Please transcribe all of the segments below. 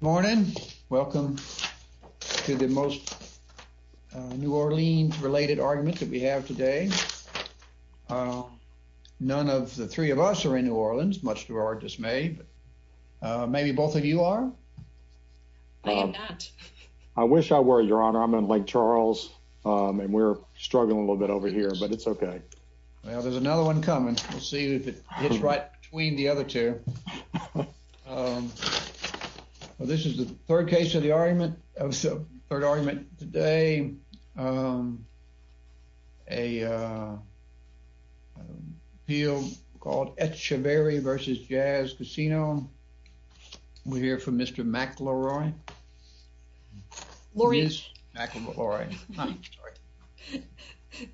Morning, welcome to the most New Orleans related argument that we have today. None of the three of us are in New Orleans much to our dismay, but maybe both of you are. I wish I were your honor. I'm in Lake Charles. And we're struggling a little bit over here, but it's okay. Well, there's another one coming. We'll see if it hits right between the other two. Well, this is the third case of the argument of the third argument today. A appeal called Echeverry v. Jazz Casino. We're here for Mr. McElroy.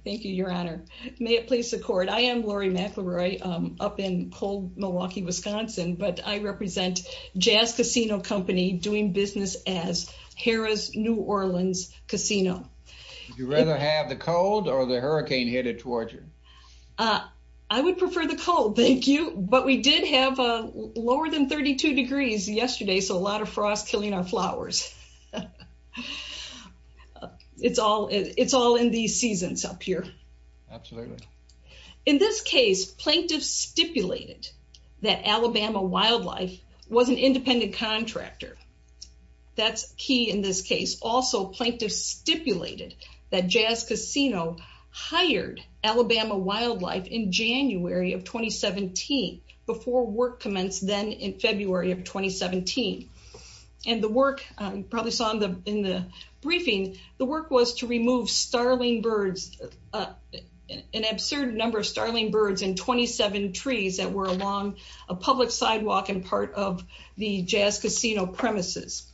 Thank you, your honor. May it please the court. I am Lori McElroy up in cold Milwaukee, Wisconsin, but I represent Jazz Casino Company doing business as Harrah's New Orleans Casino. Would you rather have the cold or the hurricane hit it towards you? I would prefer the cold, thank you. But we did have lower than 32 degrees yesterday, so a lot of frost killing our flowers. It's all in these seasons up here. Absolutely. In this case, plaintiffs stipulated that Alabama Wildlife was an independent contractor. That's key in this case. Also, plaintiffs stipulated that Jazz Casino hired Alabama Wildlife in January of 2017 before work commenced then in February of 2017. And the work, you probably saw in the briefing, the work was to remove starling birds, an absurd number of starling birds and 27 trees that were along a public sidewalk and part of the Jazz Casino premises.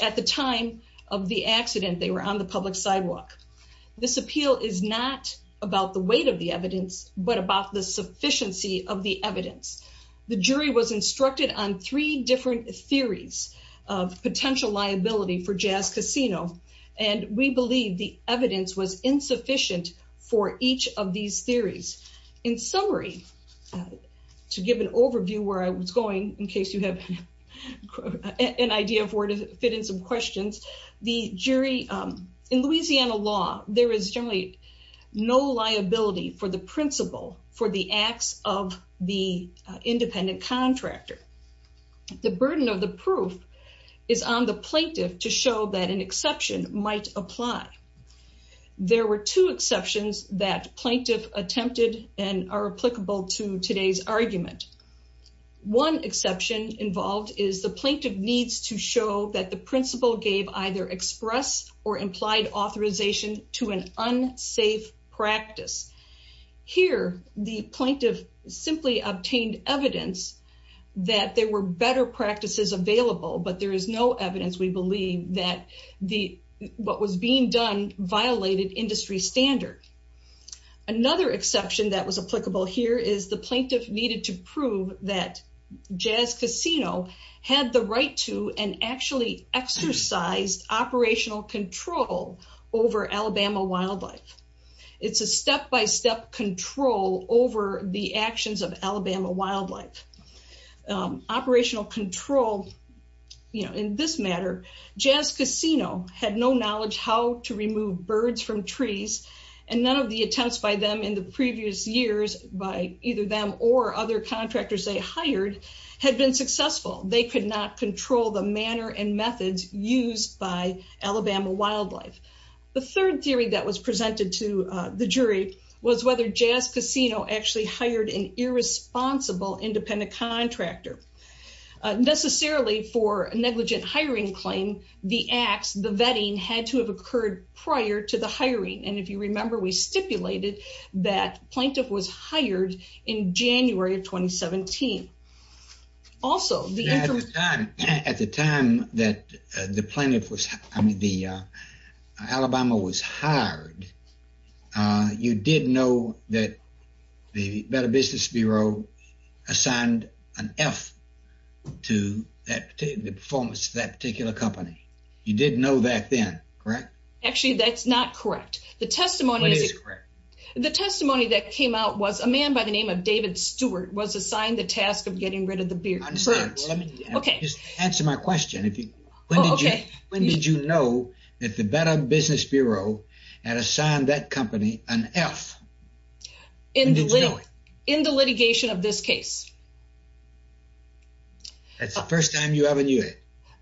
At the time of the accident, they were on the public sidewalk. This appeal is not about the weight of the evidence, but about the sufficiency of the potential liability for Jazz Casino. And we believe the evidence was insufficient for each of these theories. In summary, to give an overview where I was going, in case you have an idea of where to fit in some questions, in Louisiana law, there is generally no liability for the principal for the acts of the independent contractor. The burden of the proof is on the plaintiff to show that an exception might apply. There were two exceptions that plaintiff attempted and are applicable to today's argument. One exception involved is the plaintiff needs to show that the principal gave either express or implied authorization to an unsafe practice. Here, the plaintiff simply obtained evidence that there were better practices available, but there is no evidence, we believe, that what was being done violated industry standard. Another exception that was applicable here is the plaintiff needed to prove that Jazz Casino had the right to and actually exercised operational control over Alabama wildlife. It's a step-by-step control over the actions of Alabama wildlife. Operational control, you know, in this matter, Jazz Casino had no knowledge how to remove birds from trees, and none of the attempts by them in the previous years, by either them or other contractors they hired, had been successful. They could not control the manner and methods used by Alabama wildlife. The third theory that was presented to the jury was whether Jazz Casino actually hired an irresponsible independent contractor. Necessarily for a negligent hiring claim, the acts, the vetting had to have occurred prior to the hiring. And if you remember, we stipulated that plaintiff was Alabama was hired. You did know that the Better Business Bureau assigned an F to the performance of that particular company. You did know that then, correct? Actually, that's not correct. The testimony that came out was a man by the name of David Stewart was assigned the task of getting rid of the birds. Answer my question. When did you know that the Better Business Bureau had assigned that company an F? In the litigation of this case. That's the first time you ever knew it.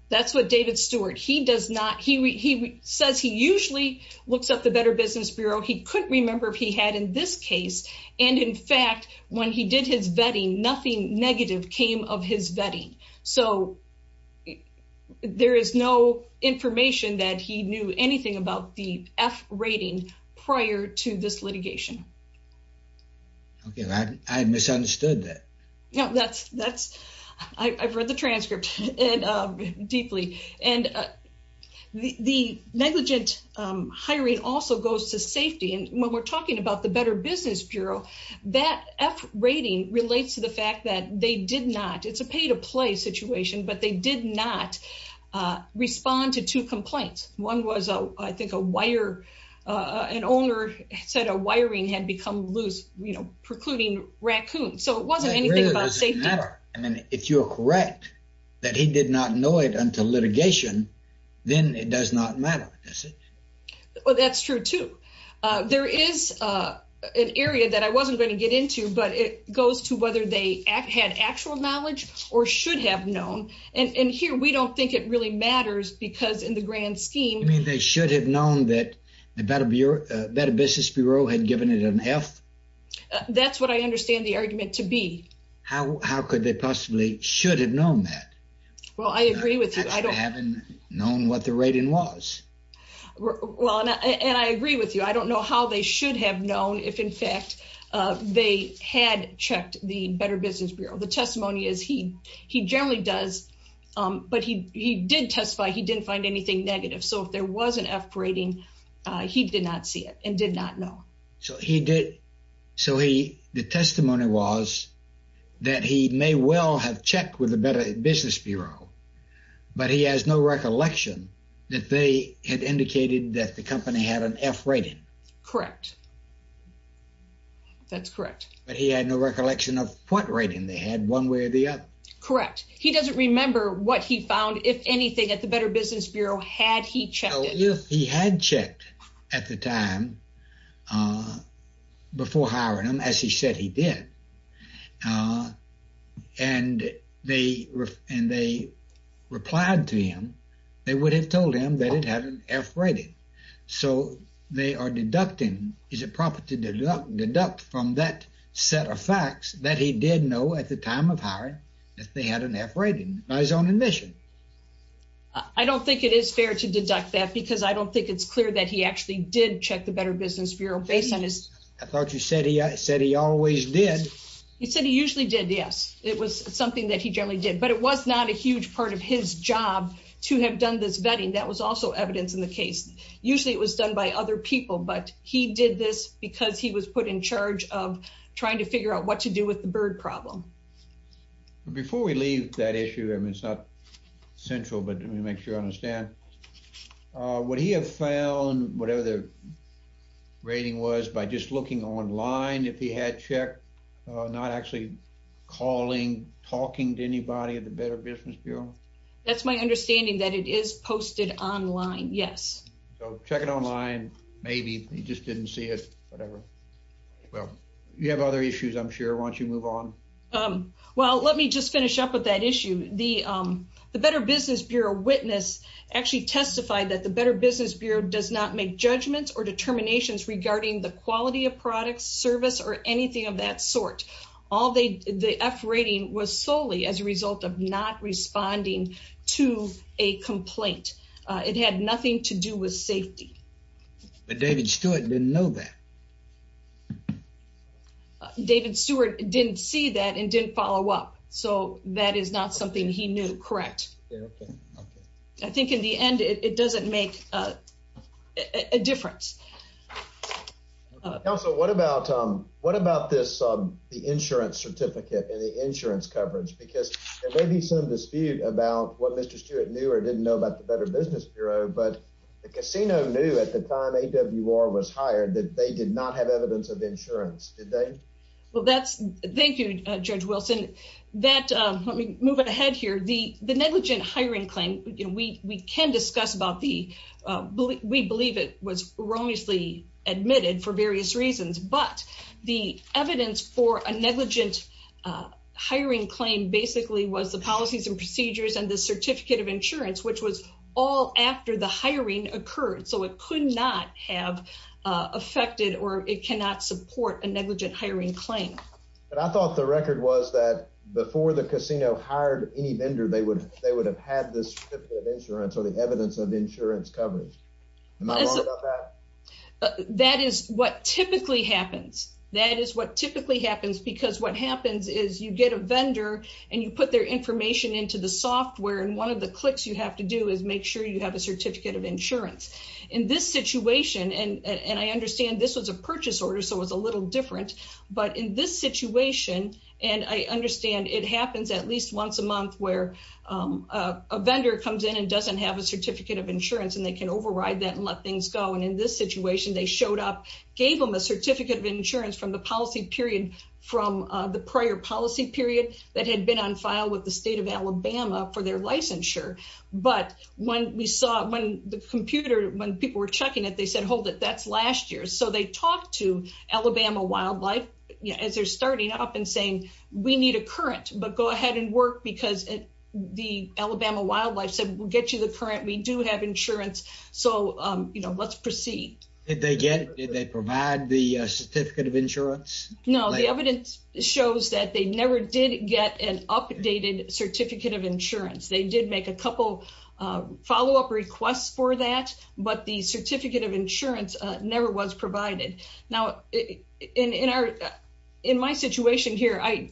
That's what David Stewart, he does not, he says he usually looks up the Better Business Bureau. He couldn't remember if he had in this case. And in fact, when he did his vetting, nothing negative came of his vetting. So it, there is no information that he knew anything about the F rating prior to this litigation. Okay. I misunderstood that. No, that's, that's, I I've read the transcript and deeply and the negligent hiring also goes to safety. And when we're talking about the Better Business Bureau, that F rating relates to the fact that they did not, it's a pay to play situation, but they did not respond to two complaints. One was, I think a wire, an owner said a wiring had become loose, you know, precluding raccoons. So it wasn't anything about safety. I mean, if you're correct, that he did not know it until litigation, then it does not matter, does it? Well, that's true too. There is an area that I wasn't going to get into, but it goes to whether they had actual knowledge or should have known. And here we don't think it really matters because in the grand scheme, I mean, they should have known that the Better Business Bureau had given it an F. That's what I understand the argument to be. How could they possibly should have known that? Well, I agree with you. I don't know what the rating was. Well, and I agree with you. I don't know how they should have known if in fact, they had checked the Better Business Bureau. The testimony is he generally does, but he did testify he didn't find anything negative. So if there was an F rating, he did not see it and did not know. So he did. So the testimony was that he may well have checked with the Better Business Bureau, but he has no recollection that they had indicated that the company had an F rating. Correct. That's correct. But he had no recollection of what rating they had one way or the other. Correct. He doesn't remember what he found, if anything, at the Better Business Bureau, had he checked? He had checked at the time before hiring him, as he said he did. And they replied to him, they would have told him that it had an F rating. So they are deducting, is it proper to deduct from that set of facts that he did know at the time of hiring, that they had an F rating by his own admission? I don't think it is fair to deduct that because I don't think it's clear that he actually did check the Better Business Bureau based on his... I thought you said he said he always did. He said he usually did, yes. It was something that he generally did, but it was not a huge part of his job to have done this vetting. That was also evidence in the case. Usually it was done by other people, but he did this because he was put in charge of trying to figure out what to do with the bird problem. But before we leave that issue, I mean, it's not central, but let me make sure I understand. Would he have found whatever the rating was by just looking online if he had checked, not actually calling, talking to anybody at the Better Business Bureau? That's my understanding that it is posted online, yes. So check it online, maybe he just didn't see it, whatever. Well, you have other issues, I'm sure, why don't you move on? Well, let me just finish up with that issue. The Better Business Bureau witness actually testified that the Better Business Bureau does not make judgments or determinations regarding the quality of products, service, or anything of that sort. The F rating was solely as a result of not responding to a complaint. It had nothing to do with safety. But David Stewart didn't know that. David Stewart didn't see that and didn't follow up. So that is not something he knew, correct? Yeah, okay, okay. I think in the end, it doesn't make a difference. Counsel, what about this, the insurance certificate and the insurance coverage? Because there may be some dispute about what Mr. Stewart knew or didn't know about the Better Business Bureau, but the casino knew at the time AWR was hired that they did not have evidence of insurance, did they? Thank you, Judge Wilson. Let me move ahead here. The negligent hiring claim, we can discuss about the, we believe it was erroneously admitted for various reasons, but the evidence for a negligent hiring claim basically was the policies and procedures and the certificate of insurance, which was all after the hiring occurred. So it could not have affected or it cannot support a negligent hiring claim. But I thought the record was that before the casino hired any vendor, they would have had this certificate of insurance or the evidence of insurance coverage. Am I wrong about that? That is what typically happens. That is what typically happens because what happens is you get a vendor and you put their information into the software and one of the clicks you have to do is make sure you have a certificate of insurance. In this situation, and I understand this was a purchase order, so it was a little different, but in this situation, and I understand it happens at least once a month where a vendor comes in and doesn't have a certificate of insurance and they can override that and let things go. And in this situation, they showed up, gave them a certificate of insurance from the policy period, from the prior policy period that had been on file with the state of Alabama for their licensure. But when we saw, when the computer, when people were checking it, they said, hold it, that's last year. So they talked to Alabama Wildlife as they're starting up and saying, we need a current, but go ahead and work because the Alabama Wildlife said, we'll get you the current. We do have insurance. So, you know, let's proceed. Did they get, did they provide the certificate of insurance? No, the evidence shows that they never did get an updated certificate of insurance. They did make a couple follow-up requests for that, but the certificate of insurance never was provided. Now in our, in my situation here, I,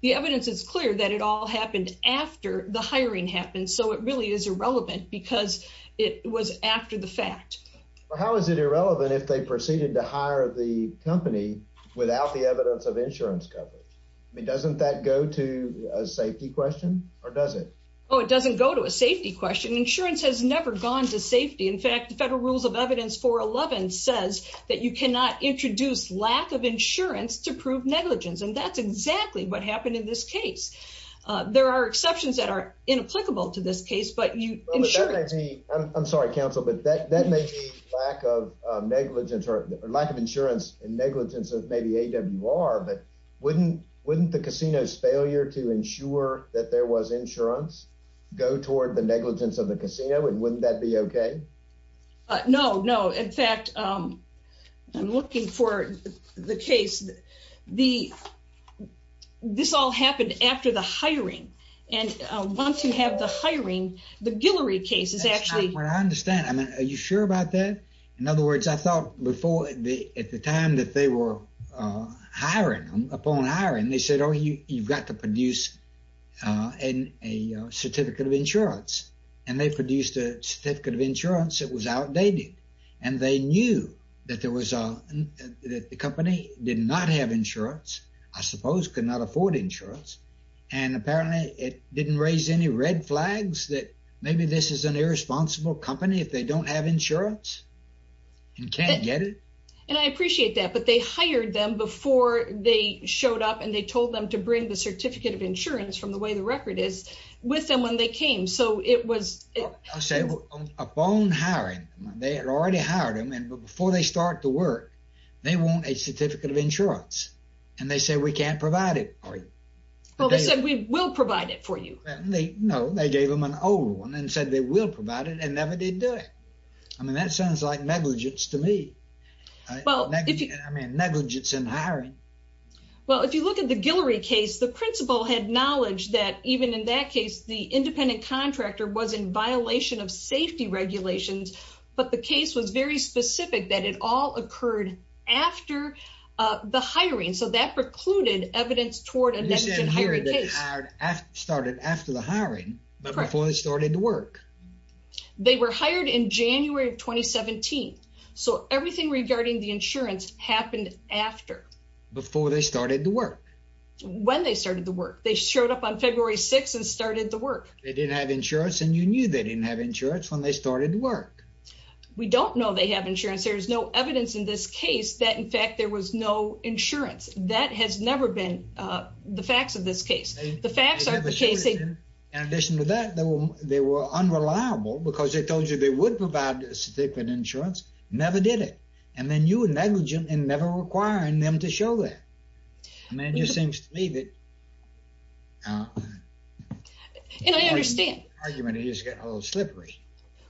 the evidence is clear that it all happened after the hiring happened. So it really is irrelevant because it was after the fact. How is it irrelevant if they proceeded to hire the company without the evidence of insurance coverage? I mean, doesn't that go to a safety question or does it? Oh, it doesn't go to a safety question. Insurance has never gone to safety. In fact, the federal rules of evidence 411 says that you cannot introduce lack of insurance to prove negligence. And that's exactly what happened in this case. There are exceptions that are inapplicable to this case, but you, I'm sorry, counsel, but that, that may be lack of negligence or lack of insurance and negligence of maybe AWR, but wouldn't, wouldn't the casino's failure to ensure that there was insurance go toward the negligence of the casino and wouldn't that be okay? No, no. In fact, I'm looking for the case, the, this all happened after the hiring. And once you have the hiring, the Guillory case is actually. What I understand, I mean, are you sure about that? In other words, I thought before the, at the time that they were hiring them, upon hiring, they said, oh, you, you've got to produce a certificate of insurance. And they produced a certificate of insurance that was outdated. And they knew that there was a, that the company did not have insurance, I suppose, could not afford insurance. And apparently it didn't raise any red flags that maybe this is an irresponsible company if they don't have insurance and can't get it. And I appreciate that, but they hired them before they showed up and they told them to bring the certificate of insurance from the way the already hired them. And before they start to work, they want a certificate of insurance. And they say, we can't provide it for you. Well, they said, we will provide it for you. No, they gave them an old one and said they will provide it and never did do it. I mean, that sounds like negligence to me. Well, I mean, negligence in hiring. Well, if you look at the Guillory case, the principal had knowledge that even in that case, the independent contractor was in violation of safety regulations, but the case was very specific that it all occurred after the hiring. So that precluded evidence toward a negligent hiring case. You're saying they started after the hiring, but before they started to work. Correct. They were hired in January of 2017. So everything regarding the insurance happened after. Before they started to work. When they started to work, they showed up on February 6th and started to work. They didn't have insurance and you knew they didn't have insurance when they started to work. We don't know they have insurance. There is no evidence in this case that in fact, there was no insurance. That has never been the facts of this case. The facts are the case. In addition to that, they were unreliable because they told you they would provide a certificate of insurance, never did it. And then you were negligent and never requiring them to show that. I mean, it just seems to me that... And I understand. ...argument is getting a little slippery.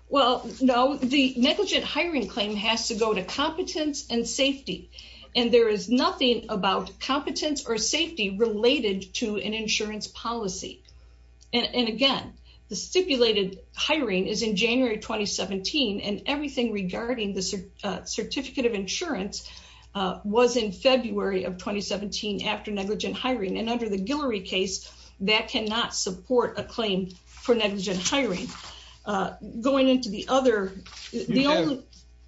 Well, no, the negligent hiring claim has to go to competence and safety. And there is nothing about competence or safety related to an insurance policy. And again, the stipulated hiring is in January of 2017. And everything regarding the certificate of insurance was in February of 2017 after negligent hiring. And under the Guillory case, that cannot support a claim for negligent hiring. Going into the other... You have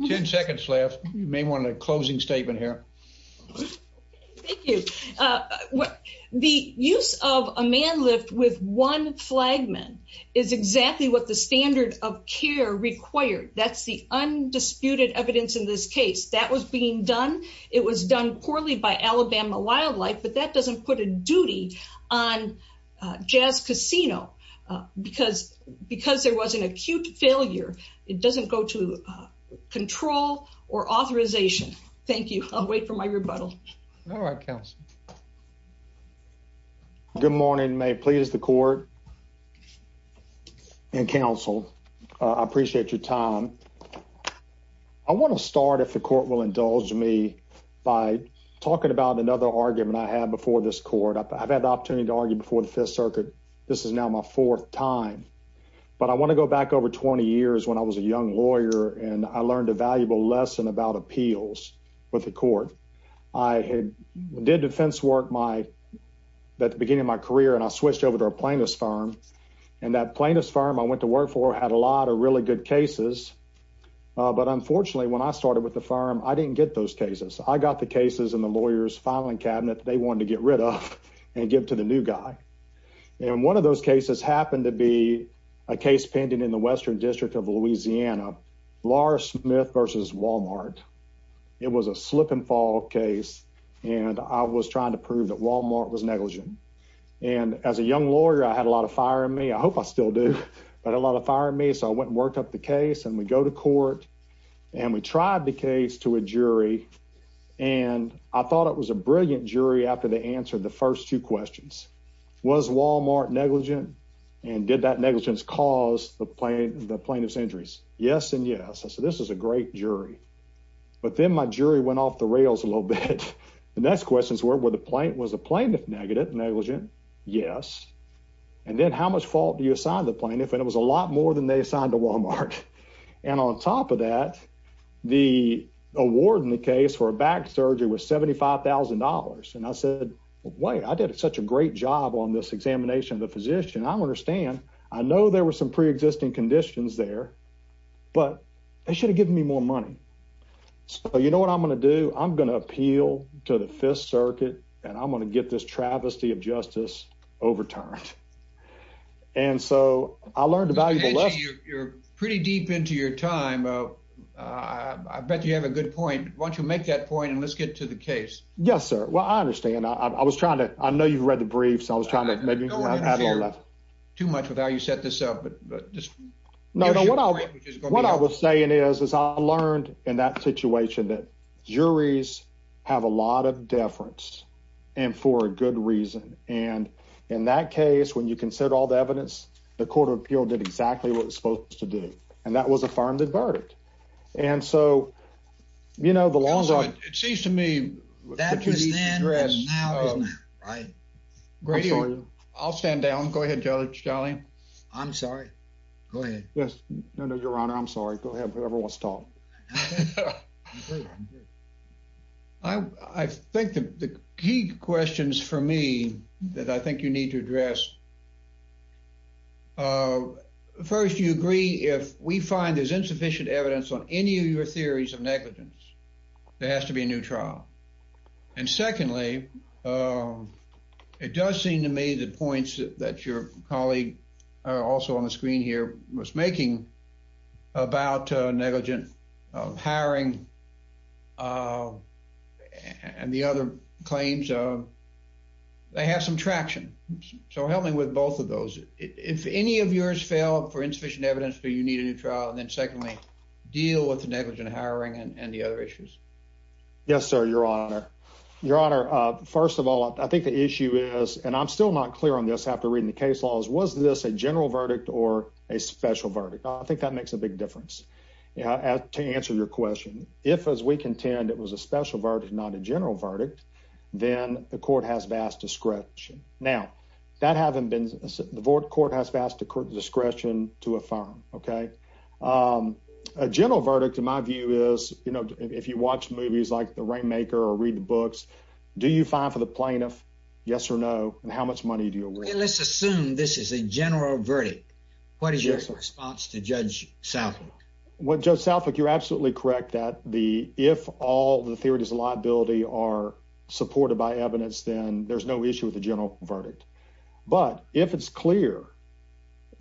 10 seconds left. You may want a closing statement here. Thank you. The use of a man lift with one flagman is exactly what the standard of care required. That's the undisputed evidence in this case. That was being done. It was done poorly by Alabama Wildlife, but that doesn't put a duty on Jazz Casino because there was an acute failure. It doesn't go to control or authorization. Thank you. I'll wait for my rebuttal. All right, counsel. Good morning. May it please the court and counsel. I appreciate your time. I want to start, if the court will indulge me, by talking about another argument I had before this court. I've had the opportunity to argue before the Fifth Circuit. This is now my fourth time. But I want to go back over 20 years when I was a young lawyer and I learned a valuable lesson about appeals with the court. I did defense work at the beginning of my career, and I switched over to a plaintiff's firm. That plaintiff's firm I went to work for had a lot of really good cases. But unfortunately, when I started with the firm, I didn't get those cases. I got the cases in the lawyer's filing cabinet they wanted to get rid of and give to the new guy. One of those cases happened to be a case pending in the Western District of Louisiana, Lars Smith v. Walmart. It was a slip-and-fall case, and I was trying to prove that Walmart was negligent. As a young lawyer, I had a lot of fire in me. I hope I still do, but a lot of fire in me. So I went and worked up the case, and we go to court, and we tried the case to a jury. I thought it was a brilliant jury after they answered the first two questions. Was Walmart negligent, and did that negligence cause the plaintiff's injuries? Yes and yes. I said, this is a great jury. But then my jury went off the rails a little bit. The next questions were, was the plaintiff negligent? Yes. Then how much fault do you assign the plaintiff? It was a lot more than they assigned to Walmart. On top of that, the award in the case for a back surgery was $75,000. I said, wait, I did such a great job on this examination of the physician. I understand. I know there were some pre-existing conditions there, but they should have given me more money. So you know what I'm going to do? I'm going to appeal to the Fifth Circuit, and I'm going to get this travesty of justice overturned. And so I learned a valuable lesson. You're pretty deep into your time. I bet you have a good point. Why don't you make that point, and let's get to the case. Yes, sir. Well, I understand. I was trying to... I know you've read the briefs. I was trying to interfere too much with how you set this up. What I was saying is, is I learned in that situation that juries have a lot of deference, and for a good reason. And in that case, when you consider all the evidence, the Court of Appeal did exactly what it's supposed to do, and that was a firm verdict. And so, you know, the longer... It seems to me... That was then, and now isn't it, right? Grady, I'll stand down. Go ahead, Judge Daly. I'm sorry. Go ahead. Yes. No, no, Your Honor. I'm sorry. Go ahead, whoever wants to talk. I think the key questions for me that I think you need to address... First, do you agree, if we find there's insufficient evidence on any of your theories of negligence, there has to be a new trial? And secondly, it does seem to me the points that your colleague, also on the screen here, was making about negligent hiring and the other claims, they have some traction. So help me with both of those. If any of yours fail for insufficient evidence, do you need a new trial? And then secondly, deal with the negligent hiring and the other issues? Yes, sir, Your Honor. Your Honor, first of all, I think the issue is, and I'm still not clear on this after reading the case laws, was this a general verdict or a special verdict? I think that makes a big difference. To answer your question, if, as we contend, it was a special verdict, not a general verdict, then the court has vast discretion. Now, the court has vast discretion to affirm. A general verdict, in my view, is if you watch movies like The Rainmaker or read the books, do you fine for the plaintiff? Yes or no? And how much money do you award? Let's assume this is a general verdict. What is your response to Judge Southwick? Judge Southwick, you're absolutely correct that if all the theories of liability are supported by evidence, then there's no issue with the general verdict. But if it's clear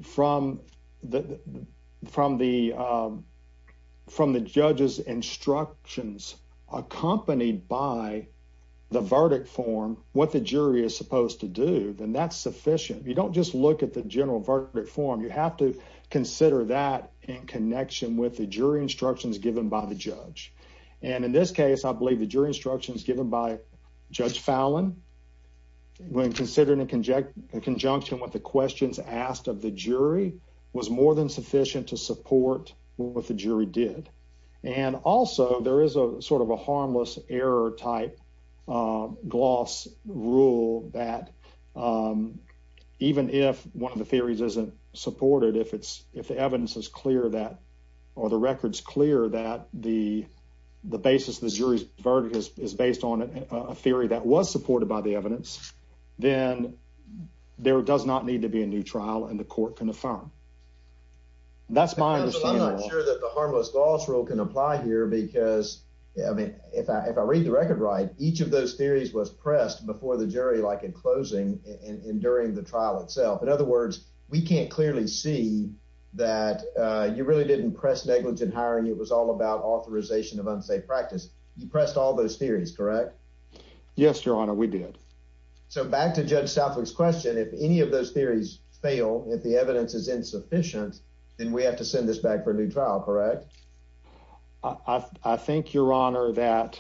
from the judge's instructions accompanied by the verdict form, what the jury is supposed to do, then that's sufficient. You don't just look at the general verdict form. You have to consider that in connection with the jury instructions given by the judge. And in this case, I believe the jury instructions given by Judge Fallon, when considering in conjunction with the questions asked of the jury, was more than sufficient to support what the jury did. And also, there is a sort of a harmless error-type gloss rule that even if one of the theories isn't supported, if the evidence is clear that or the record's clear that the basis of the jury's verdict is based on a theory that was supported by the evidence, then there does not need to be a new trial and the court can affirm. That's my understanding. I'm not sure that the harmless gloss rule can apply here because, I mean, if I read the record right, each of those theories was pressed before the jury, like in closing and during the trial itself. In other words, we can't clearly see that you really didn't press negligent hiring. It was all about authorization of unsafe practice. You pressed all those theories, correct? Yes, Your Honor, we did. So back to Judge Southwick's question, if any of those theories fail, if the evidence is insufficient, then we have to send this back for a new trial, correct? I think, Your Honor, that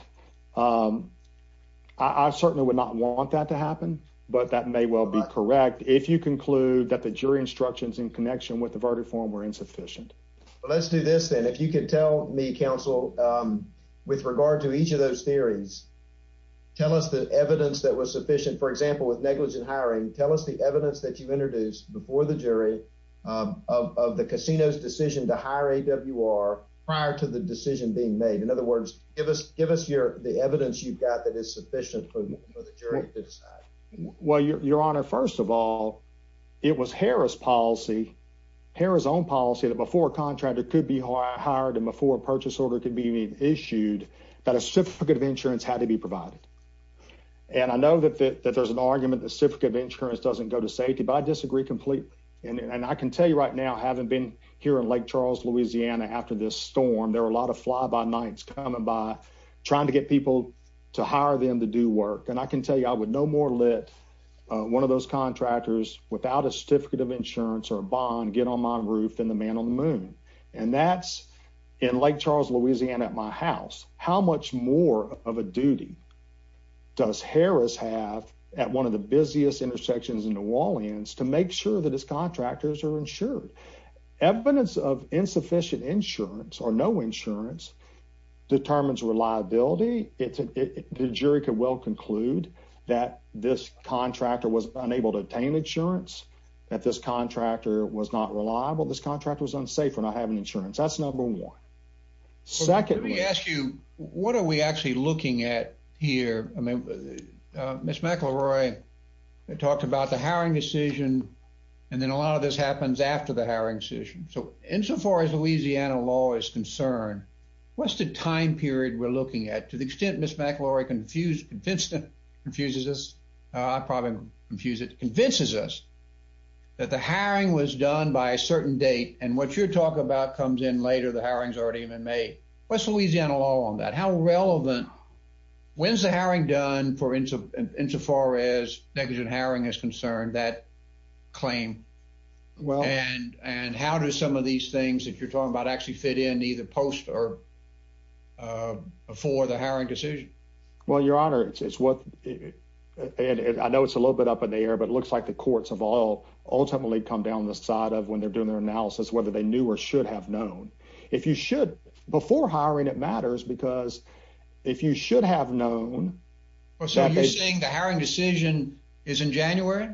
I certainly would not want that to happen, but that may well be correct if you conclude that the jury instructions in connection with the verdict form were insufficient. Well, let's do this then. If you could tell me, counsel, with regard to each of those theories, tell us the evidence that was sufficient. For example, with negligent hiring, tell us the evidence that you've introduced before the jury of the casino's decision to prior to the decision being made. In other words, give us the evidence you've got that is sufficient for the jury to decide. Well, Your Honor, first of all, it was Harris' policy, Harris' own policy, that before a contractor could be hired and before a purchase order could be issued, that a certificate of insurance had to be provided. And I know that there's an argument that a certificate of insurance doesn't go to safety, but I disagree completely. And I can tell you right now, having been here in Lake Charles, Louisiana, after this storm, there were a lot of fly-by nights coming by, trying to get people to hire them to do work. And I can tell you, I would no more let one of those contractors without a certificate of insurance or a bond get on my roof than the man on the moon. And that's in Lake Charles, Louisiana, at my house. How much more of a duty does Harris have at one of the busiest intersections in New Orleans to make sure that his contractors are insured? Evidence of insufficient insurance or no insurance determines reliability. The jury could well conclude that this contractor was unable to attain insurance, that this contractor was not reliable, this contractor was unsafe for not having insurance. That's number one. Second— Let me ask you, what are we actually looking at here? I mean, Ms. McElroy talked about the hiring decision, and then a lot of this happens after the hiring decision. So, insofar as Louisiana law is concerned, what's the time period we're looking at? To the extent Ms. McElroy confuses—confuses us—I probably would confuse it—convinces us that the hiring was done by a certain date, and what you're talking about comes in later, the hiring's already been made. What's Louisiana law on that? How relevant— when's the hiring done for—insofar as negligent hiring is concerned, that claim? And how do some of these things that you're talking about actually fit in either post or before the hiring decision? Well, Your Honor, it's what—and I know it's a little bit up in the air, but it looks like the courts have all ultimately come down the side of, when they're doing their if you should—before hiring, it matters, because if you should have known— Well, so you're saying the hiring decision is in January,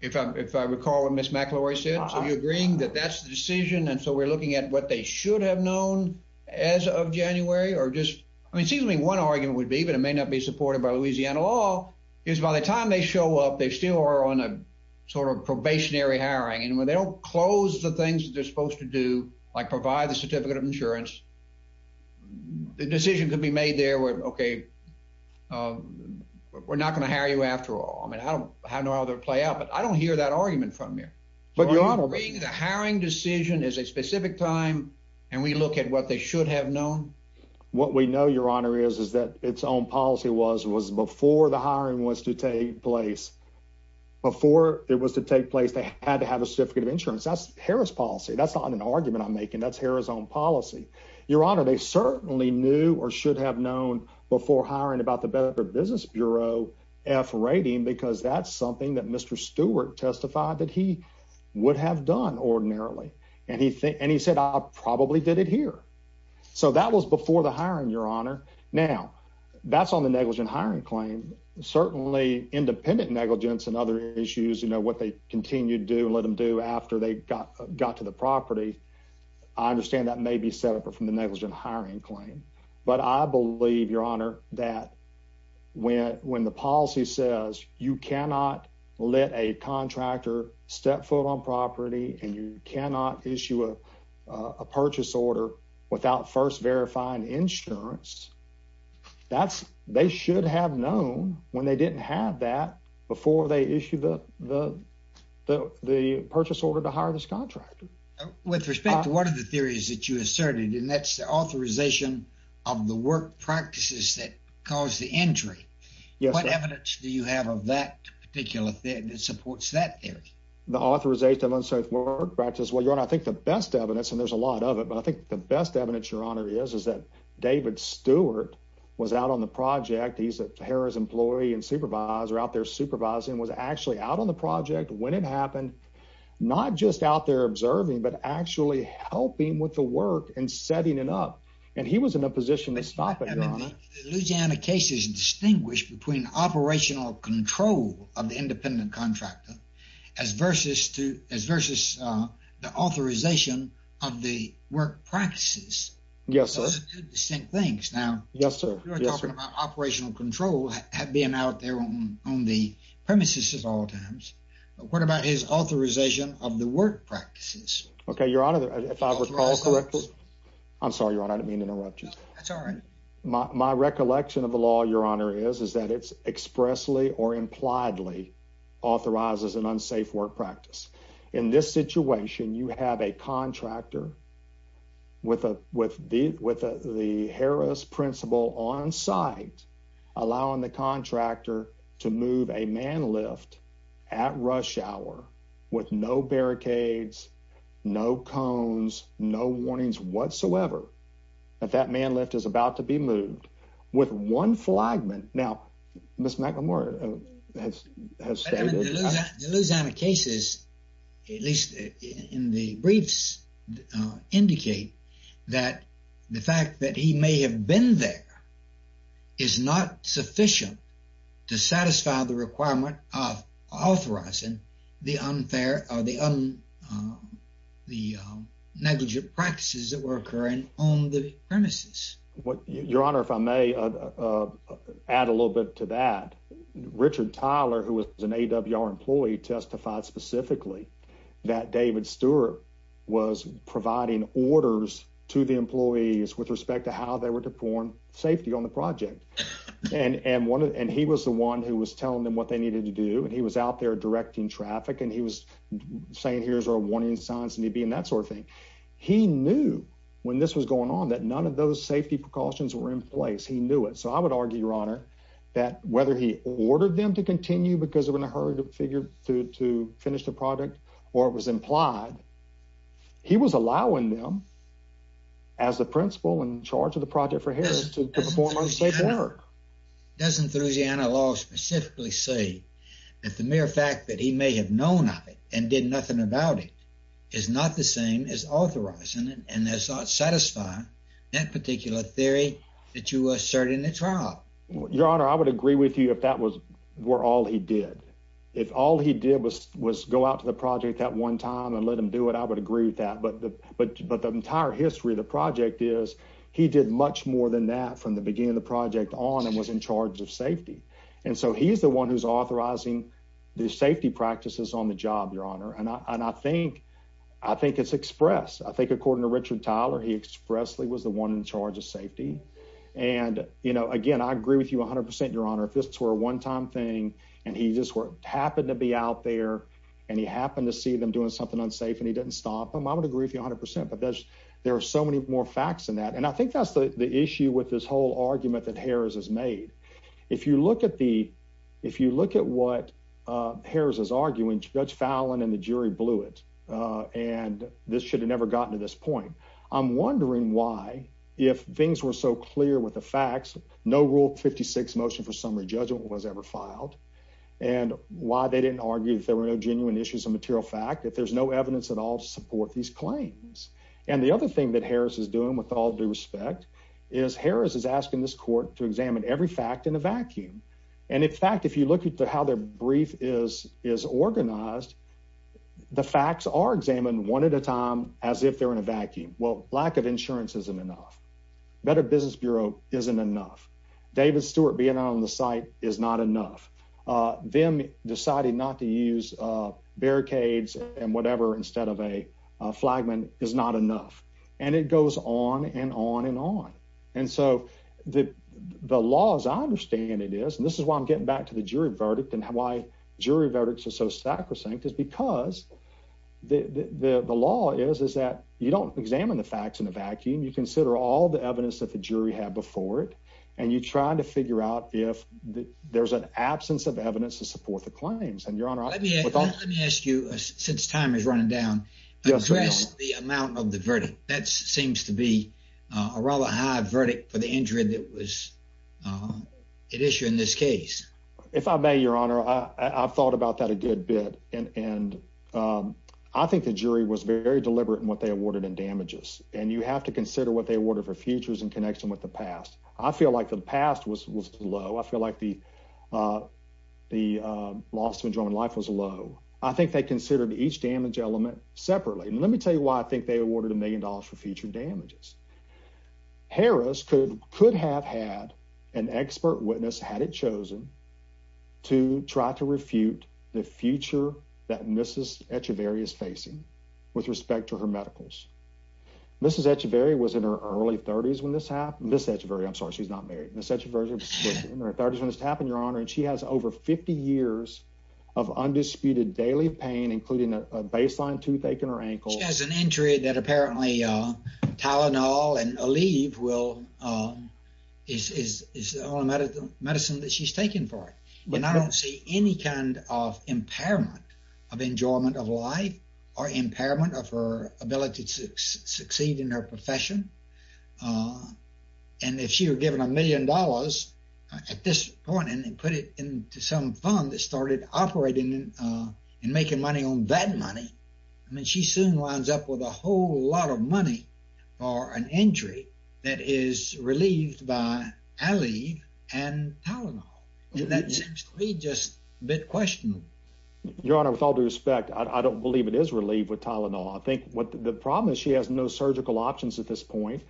if I recall what Ms. McElroy said? Uh-huh. So, you're agreeing that that's the decision, and so we're looking at what they should have known as of January, or just—I mean, it seems to me one argument would be, but it may not be supported by Louisiana law, is by the time they show up, they still are on a sort of probationary hiring, and when they don't close the things that like provide the certificate of insurance, the decision could be made there where, okay, we're not going to hire you after all. I mean, I don't know how that would play out, but I don't hear that argument from here. But, Your Honor— Are you agreeing the hiring decision is a specific time, and we look at what they should have known? What we know, Your Honor, is that its own policy was, was before the hiring was to take place, before it was to take place, they had to have a certificate of insurance. That's not an argument I'm making. That's Arizona's own policy. Your Honor, they certainly knew, or should have known, before hiring about the Business Bureau F rating, because that's something that Mr. Stewart testified that he would have done ordinarily, and he said, I probably did it here. So, that was before the hiring, Your Honor. Now, that's on the negligent hiring claim. Certainly, independent negligence and other issues, you know, what they continued to do, after they got to the property, I understand that may be set up from the negligent hiring claim. But I believe, Your Honor, that when the policy says you cannot let a contractor step foot on property, and you cannot issue a purchase order without first verifying insurance, that's, they should have known when they didn't have that before they issued the, the, the, the purchase order to hire this contractor. With respect to one of the theories that you asserted, and that's the authorization of the work practices that caused the injury, what evidence do you have of that particular thing that supports that theory? The authorization of unsafe work practices, well, Your Honor, I think the best evidence, and there's a lot of it, but I think the best evidence, Your Honor, is, is that David Stewart was out on the project. He's a Harrah's employee and supervisor, out there supervising, was actually out on the project when it happened, not just out there observing, but actually helping with the work and setting it up. And he was in a position to stop it, Your Honor. Louisiana cases distinguish between operational control of the independent contractor, as versus to, as versus the authorization of the work practices. Yes, sir. Those are two distinct things. Now. Yes, sir. You're talking about operational control being out there on, on the premises at all times, but what about his authorization of the work practices? Okay, Your Honor, if I recall correctly, I'm sorry, Your Honor, I didn't mean to interrupt you. That's all right. My recollection of the law, Your Honor, is, is that it's expressly or impliedly authorizes an unsafe work practice. In this situation, you have a contractor with a, with the, with the Harrah's principal on site, allowing the contractor to move a man lift at rush hour with no barricades, no cones, no warnings whatsoever, that that man lift is about to be moved with one flagman. Now, Ms. McLemore has, has stated. The Louisiana cases, at least in the briefs, indicate that the fact that he may have been there is not sufficient to satisfy the requirement of authorizing the unfair or the, the negligent practices that were occurring on the premises. Your Honor, if I may add a little bit to that, Richard Tyler, who was an AWR employee, testified specifically that David Stewart was providing orders to the employees with respect to how they were performing safety on the project. And, and one of, and he was the one who was telling them what they needed to do, and he was out there directing traffic, and he was saying, here's our warning signs, and he'd be in that sort of thing. He knew when this was going on that none of those safety precautions were in place. He knew it. So, I would argue, Your Honor, that whether he ordered them to continue because they were in a hurry to figure to, to finish the project or it was implied, he was allowing them as the principal in charge of the project for Harris to perform unsafe work. Doesn't Louisiana law specifically say that the mere fact that he may have known of it and did nothing about it is not the same as authorizing it and that's not satisfying that particular theory that you assert in the trial. Your Honor, I would agree with you if that was, were all he did. If all he did was, was go out to the project that one time and let him do it, I would agree with that. But, but, but the entire history of the project is he did much more than that from the beginning of the project on and was in charge of safety. And so, he's the one who's authorizing the safety practices on the job, Your Honor, and I, and I think, I think it's expressed. I think according to Richard Tyler, he expressly was the one in charge of safety and, you know, again, I agree with you 100%, Your Honor, if this were a one-time thing and he just happened to be out there and he happened to see them doing something unsafe and he didn't stop him, I would agree with you 100% but there's, there are so many more facts than that and I think that's the, the issue with this whole argument that Harris has made. If you look at the, if you look at what Harris is arguing, Judge Fallon and the jury blew it and this should have never gotten to this point. I'm wondering why, if things were so clear with the facts, no Rule 56 motion for summary judgment was ever filed and why they didn't argue if there were no genuine issues of material fact, if there's no evidence at all to support these claims. And the other thing that Harris is doing, with all due respect, is Harris is asking this court to examine every fact in a vacuum and in fact, if you look at how their brief is, is organized, the facts are examined one at a time as if they're in a vacuum. Well, lack of insurance isn't enough. Better Business Bureau isn't enough. David Stewart being on the site is not enough. Them deciding not to use barricades and whatever instead of a flagman is not enough and it goes on and on and on and so the, the laws I understand it is and this is why I'm getting back to the jury verdict and why jury verdicts are so sacrosanct is because the, the law is, is that you don't examine the facts in a vacuum. You consider all the evidence that the jury had before it and you're trying to figure out if there's an absence of evidence to support the claims and your honor. Let me ask you, since time is running down, address the amount of the verdict. That seems to be a rather high verdict for the injury that was, uh, at issue in this case. If I may, your honor, I, I've thought about that a good bit and, and, um, I think the jury was very deliberate in what they awarded in damages and you have to consider what they awarded for futures in connection with the past. I feel like the past was, was low. I feel like the, uh, the, uh, loss of enjoyment life was low. I think they considered each damage element separately and let me tell you why I think they awarded a million dollars for future damages. Harris could, could have had an expert witness had it chosen to try to refute the future that Mrs. Echeverria is facing with respect to her medicals. Mrs. Echeverria was in her early thirties when this happened. Mrs. Echeverria, I'm sorry, she's not married. Mrs. Echeverria was in her thirties when this happened, your honor, and she has over 50 years of undisputed daily pain, including a baseline toothache in her ankle. She has an injury that apparently, uh, Tylenol and Aleve will, um, is, is, is the only medical medicine that she's taken for it. And I don't see any kind of impairment of enjoyment of life or impairment of her ability to succeed in her profession. Uh, and if she were given a million dollars at this point and they put it into some fund that started operating, uh, and making money on that money, I mean, she soon winds up with a whole lot of money for an injury that is relieved by Aleve and Tylenol. And that seems to be just a bit questionable. Your honor, with all due respect, I don't believe it is relieved with Tylenol. I think what the problem is she has no surgical options at this point,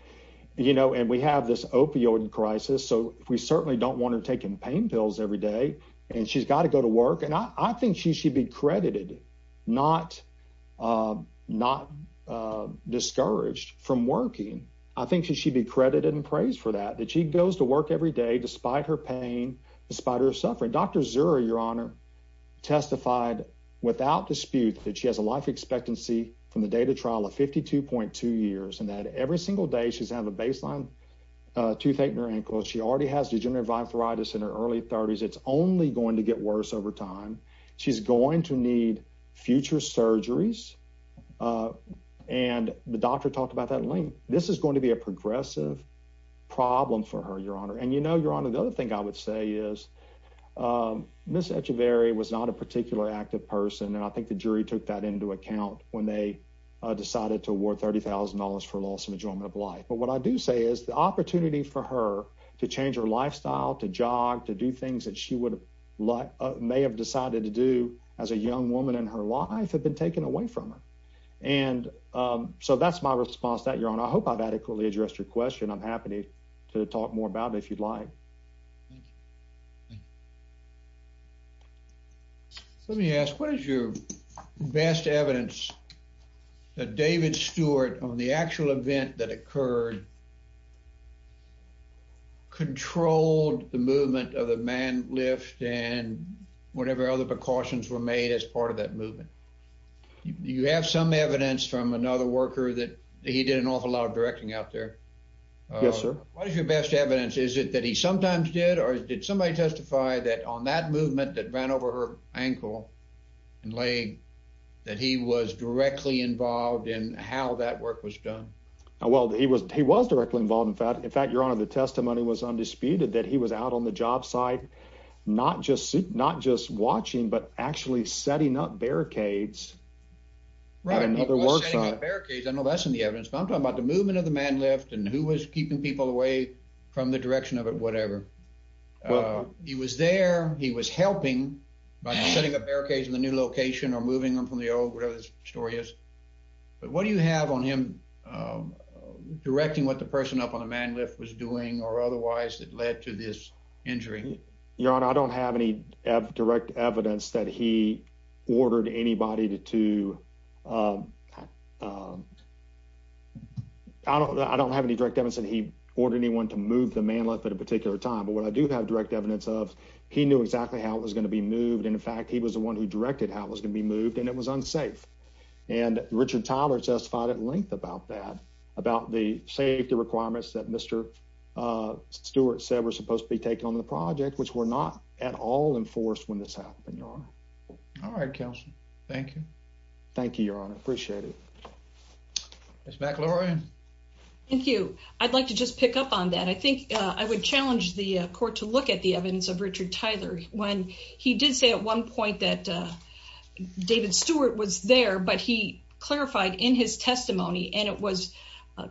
you know, and we have this opioid crisis. So we certainly don't want her taking pain pills every day and she's got to go to work. And I think she should be credited, not, uh, not, uh, discouraged from working. I think she should be credited and praised for that, that she goes to work every day, despite her pain, despite her suffering. Dr. Zuri, your honor, testified without dispute that she has a life expectancy from the date of trial of 52.2 years, and that every single day she's had a baseline, uh, toothache in her ankle. She already has degenerative arthritis in her early thirties. It's only going to get worse over time. She's going to need future surgeries. Uh, and the doctor talked about that link. This is going to be a progressive problem for her, your honor. And you know, your honor, the other thing I would say is, um, Ms. Echeverri was not a particular active person. And I think the jury took that into account when they decided to award $30,000 for loss and enjoyment of life. But what I do say is the opportunity for her to change her lifestyle, to jog, to do things that she would may have decided to do as a young woman in her life had been taken away from her. And, um, so that's my response to that, your honor. I hope I've adequately addressed your question. I'm happy to talk more about it if you'd like. Let me ask, what is your best evidence that David Stewart on the actual event that occurred controlled the movement of the man lift and whatever other precautions were made as part of that movement? You have some evidence from another worker that he did an awful lot of directing out there. Yes, sir. What is your best evidence? Is it that he sometimes did, or did somebody testify that on that movement that ran over her ankle and leg that he was involved in how that work was done? Well, he was, he was directly involved. In fact, in fact, your honor, the testimony was undisputed that he was out on the job site, not just suit, not just watching, but actually setting up barricades. Right. And other works on barricades. I know that's in the evidence, but I'm talking about the movement of the man lift and who was keeping people away from the direction of it, whatever. He was there, he was helping by setting up barricades in the new location or moving them the old whatever this story is. But what do you have on him directing what the person up on the man lift was doing or otherwise that led to this injury? Your honor, I don't have any direct evidence that he ordered anybody to, to, um, um, I don't, I don't have any direct evidence that he ordered anyone to move the man lift at a particular time, but what I do have direct evidence of he knew exactly how it was going to be moved. And in fact, he was the one who directed how it was going to be moved and it was unsafe. And Richard Tyler testified at length about that, about the safety requirements that Mr. Stewart said were supposed to be taken on the project, which were not at all enforced when this happened. Your honor. All right, counsel. Thank you. Thank you, your honor. Appreciate it. Ms. McLaurin. Thank you. I'd like to just pick up on that. I think I would challenge the court to look at the evidence of Richard Tyler when he did say at one point that, uh, David Stewart was there, but he clarified in his testimony and it was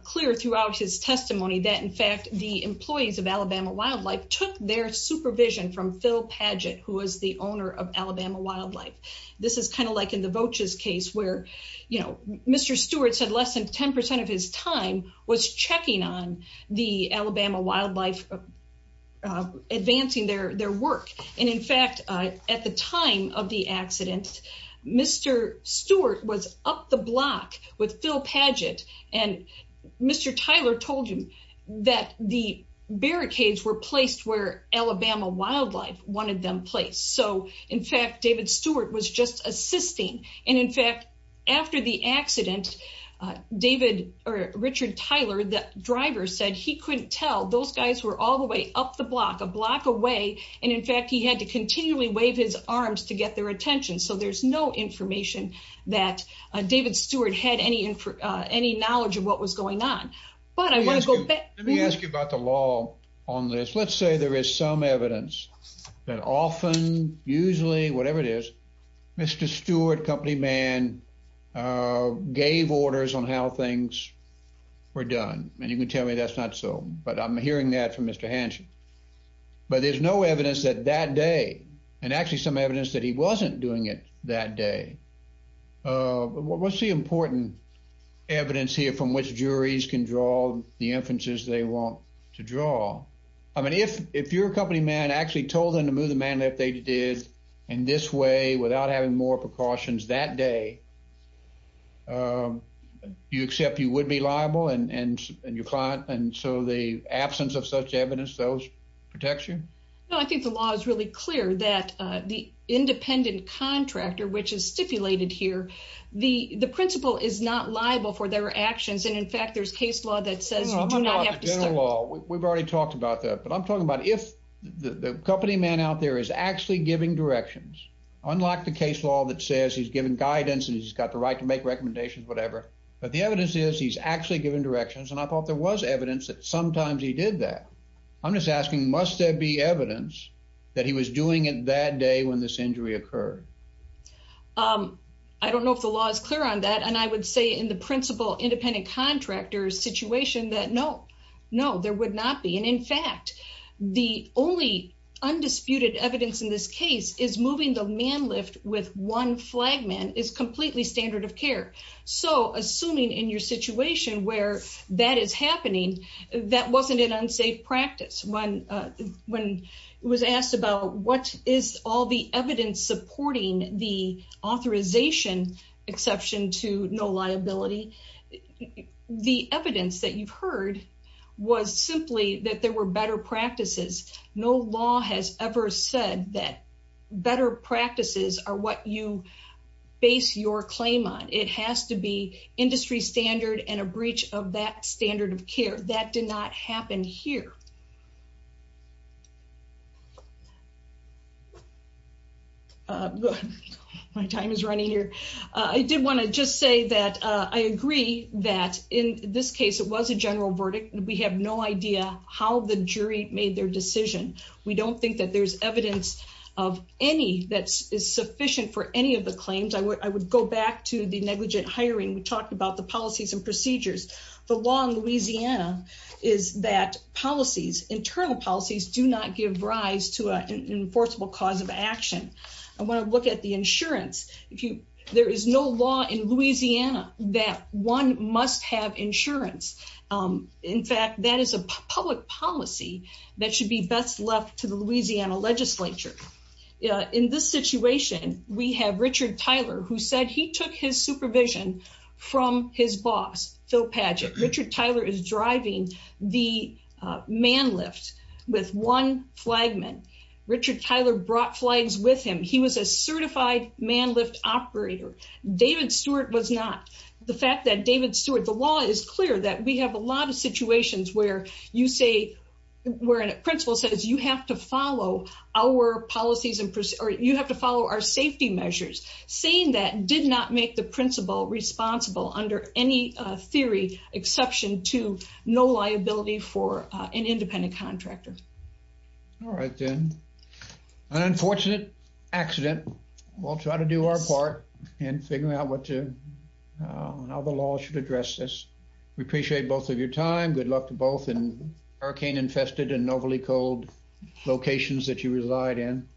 clear throughout his testimony that in fact, the employees of Alabama wildlife took their supervision from Phil Padgett, who was the owner of Alabama wildlife. This is kind of like in the Vocha's case where, you know, Mr. Stewart said less than 10% of his time was checking on the Alabama wildlife of advancing their, their work. And in fact, uh, at the time of the accident, Mr. Stewart was up the block with Phil Padgett and Mr. Tyler told him that the barricades were placed where Alabama wildlife wanted them placed. So in fact, David Stewart was just assisting. And in fact, after the accident, uh, David or Richard Tyler, the driver said he couldn't tell those guys were all the way up the block, a block away. And in fact, he had to continually wave his arms to get their attention. So there's no information that David Stewart had any, uh, any knowledge of what was going on, but I want to go back. Let me ask you about the law on this. Let's say there is some gave orders on how things were done, and you can tell me that's not so. But I'm hearing that from Mr Hanson. But there's no evidence that that day and actually some evidence that he wasn't doing it that day. Uh, what's the important evidence here from which juries can draw the inferences they want to draw? I mean, if if you're a company man actually told them to move the man if they did in this way, without having more precautions that day, uh, you accept you would be liable and your client. And so the absence of such evidence, those protection. No, I think the law is really clear that the independent contractor, which is stipulated here, the principle is not liable for their actions. And in fact, there's case law that says you do not have to law. We've already talked about that. But I'm actually giving directions. Unlock the case law that says he's given guidance and he's got the right to make recommendations, whatever. But the evidence is he's actually given directions, and I thought there was evidence that sometimes he did that. I'm just asking, must there be evidence that he was doing it that day when this injury occurred? Um, I don't know if the law is clear on that. And I would say in the principle, independent contractors situation that no, no, there would not be. And in fact, the only undisputed evidence in this case is moving. The man lift with one flagman is completely standard of care. So assuming in your situation where that is happening, that wasn't an unsafe practice. When, uh, when it was asked about what is all the evidence supporting the authorization exception to no liability, the evidence that you've heard was simply that there were better practices. No law has ever said that better practices are what you base your claim on. It has to be industry standard and a breach of that standard of care that did not happen here. My time is running here. I did want to just say that I agree that in this case, it was a general verdict and we have no idea how the jury made their decision. We don't think that there's evidence of any that is sufficient for any of the claims. I would, I would go back to the negligent hiring. We talked about the policies and procedures, the long Louisiana is that policies, internal policies do not give rise to an enforceable cause of action. I want to look at the insurance. If you, there is no law in Louisiana that one must have insurance. Um, in fact, that is a public policy that should be best left to the Louisiana legislature. Uh, in this situation, we have Richard Tyler who said he took his supervision from his boss, Phil Padgett. Richard Tyler is driving the, uh, man lift with one flagman. Richard Tyler brought flags with him. He was a certified man lift operator. David Stewart was not. The fact that David Stewart, the law is clear that we have a lot of situations where you say we're in a principle says you have to follow our policies and, or you have to follow our safety measures. Saying that did not make the principle responsible under any, uh, theory exception to no liability for an independent contractor. All right, then. An unfortunate accident. We'll try to do our part in figuring out what to, uh, how the law should address this. We appreciate both of your time. Good luck to both in hurricane infested and overly cold locations that you reside in.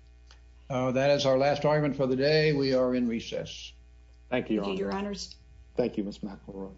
Uh, that is our last argument for the day. We are in recess. Thank you, Your Honor. Thank you, Miss McElroy.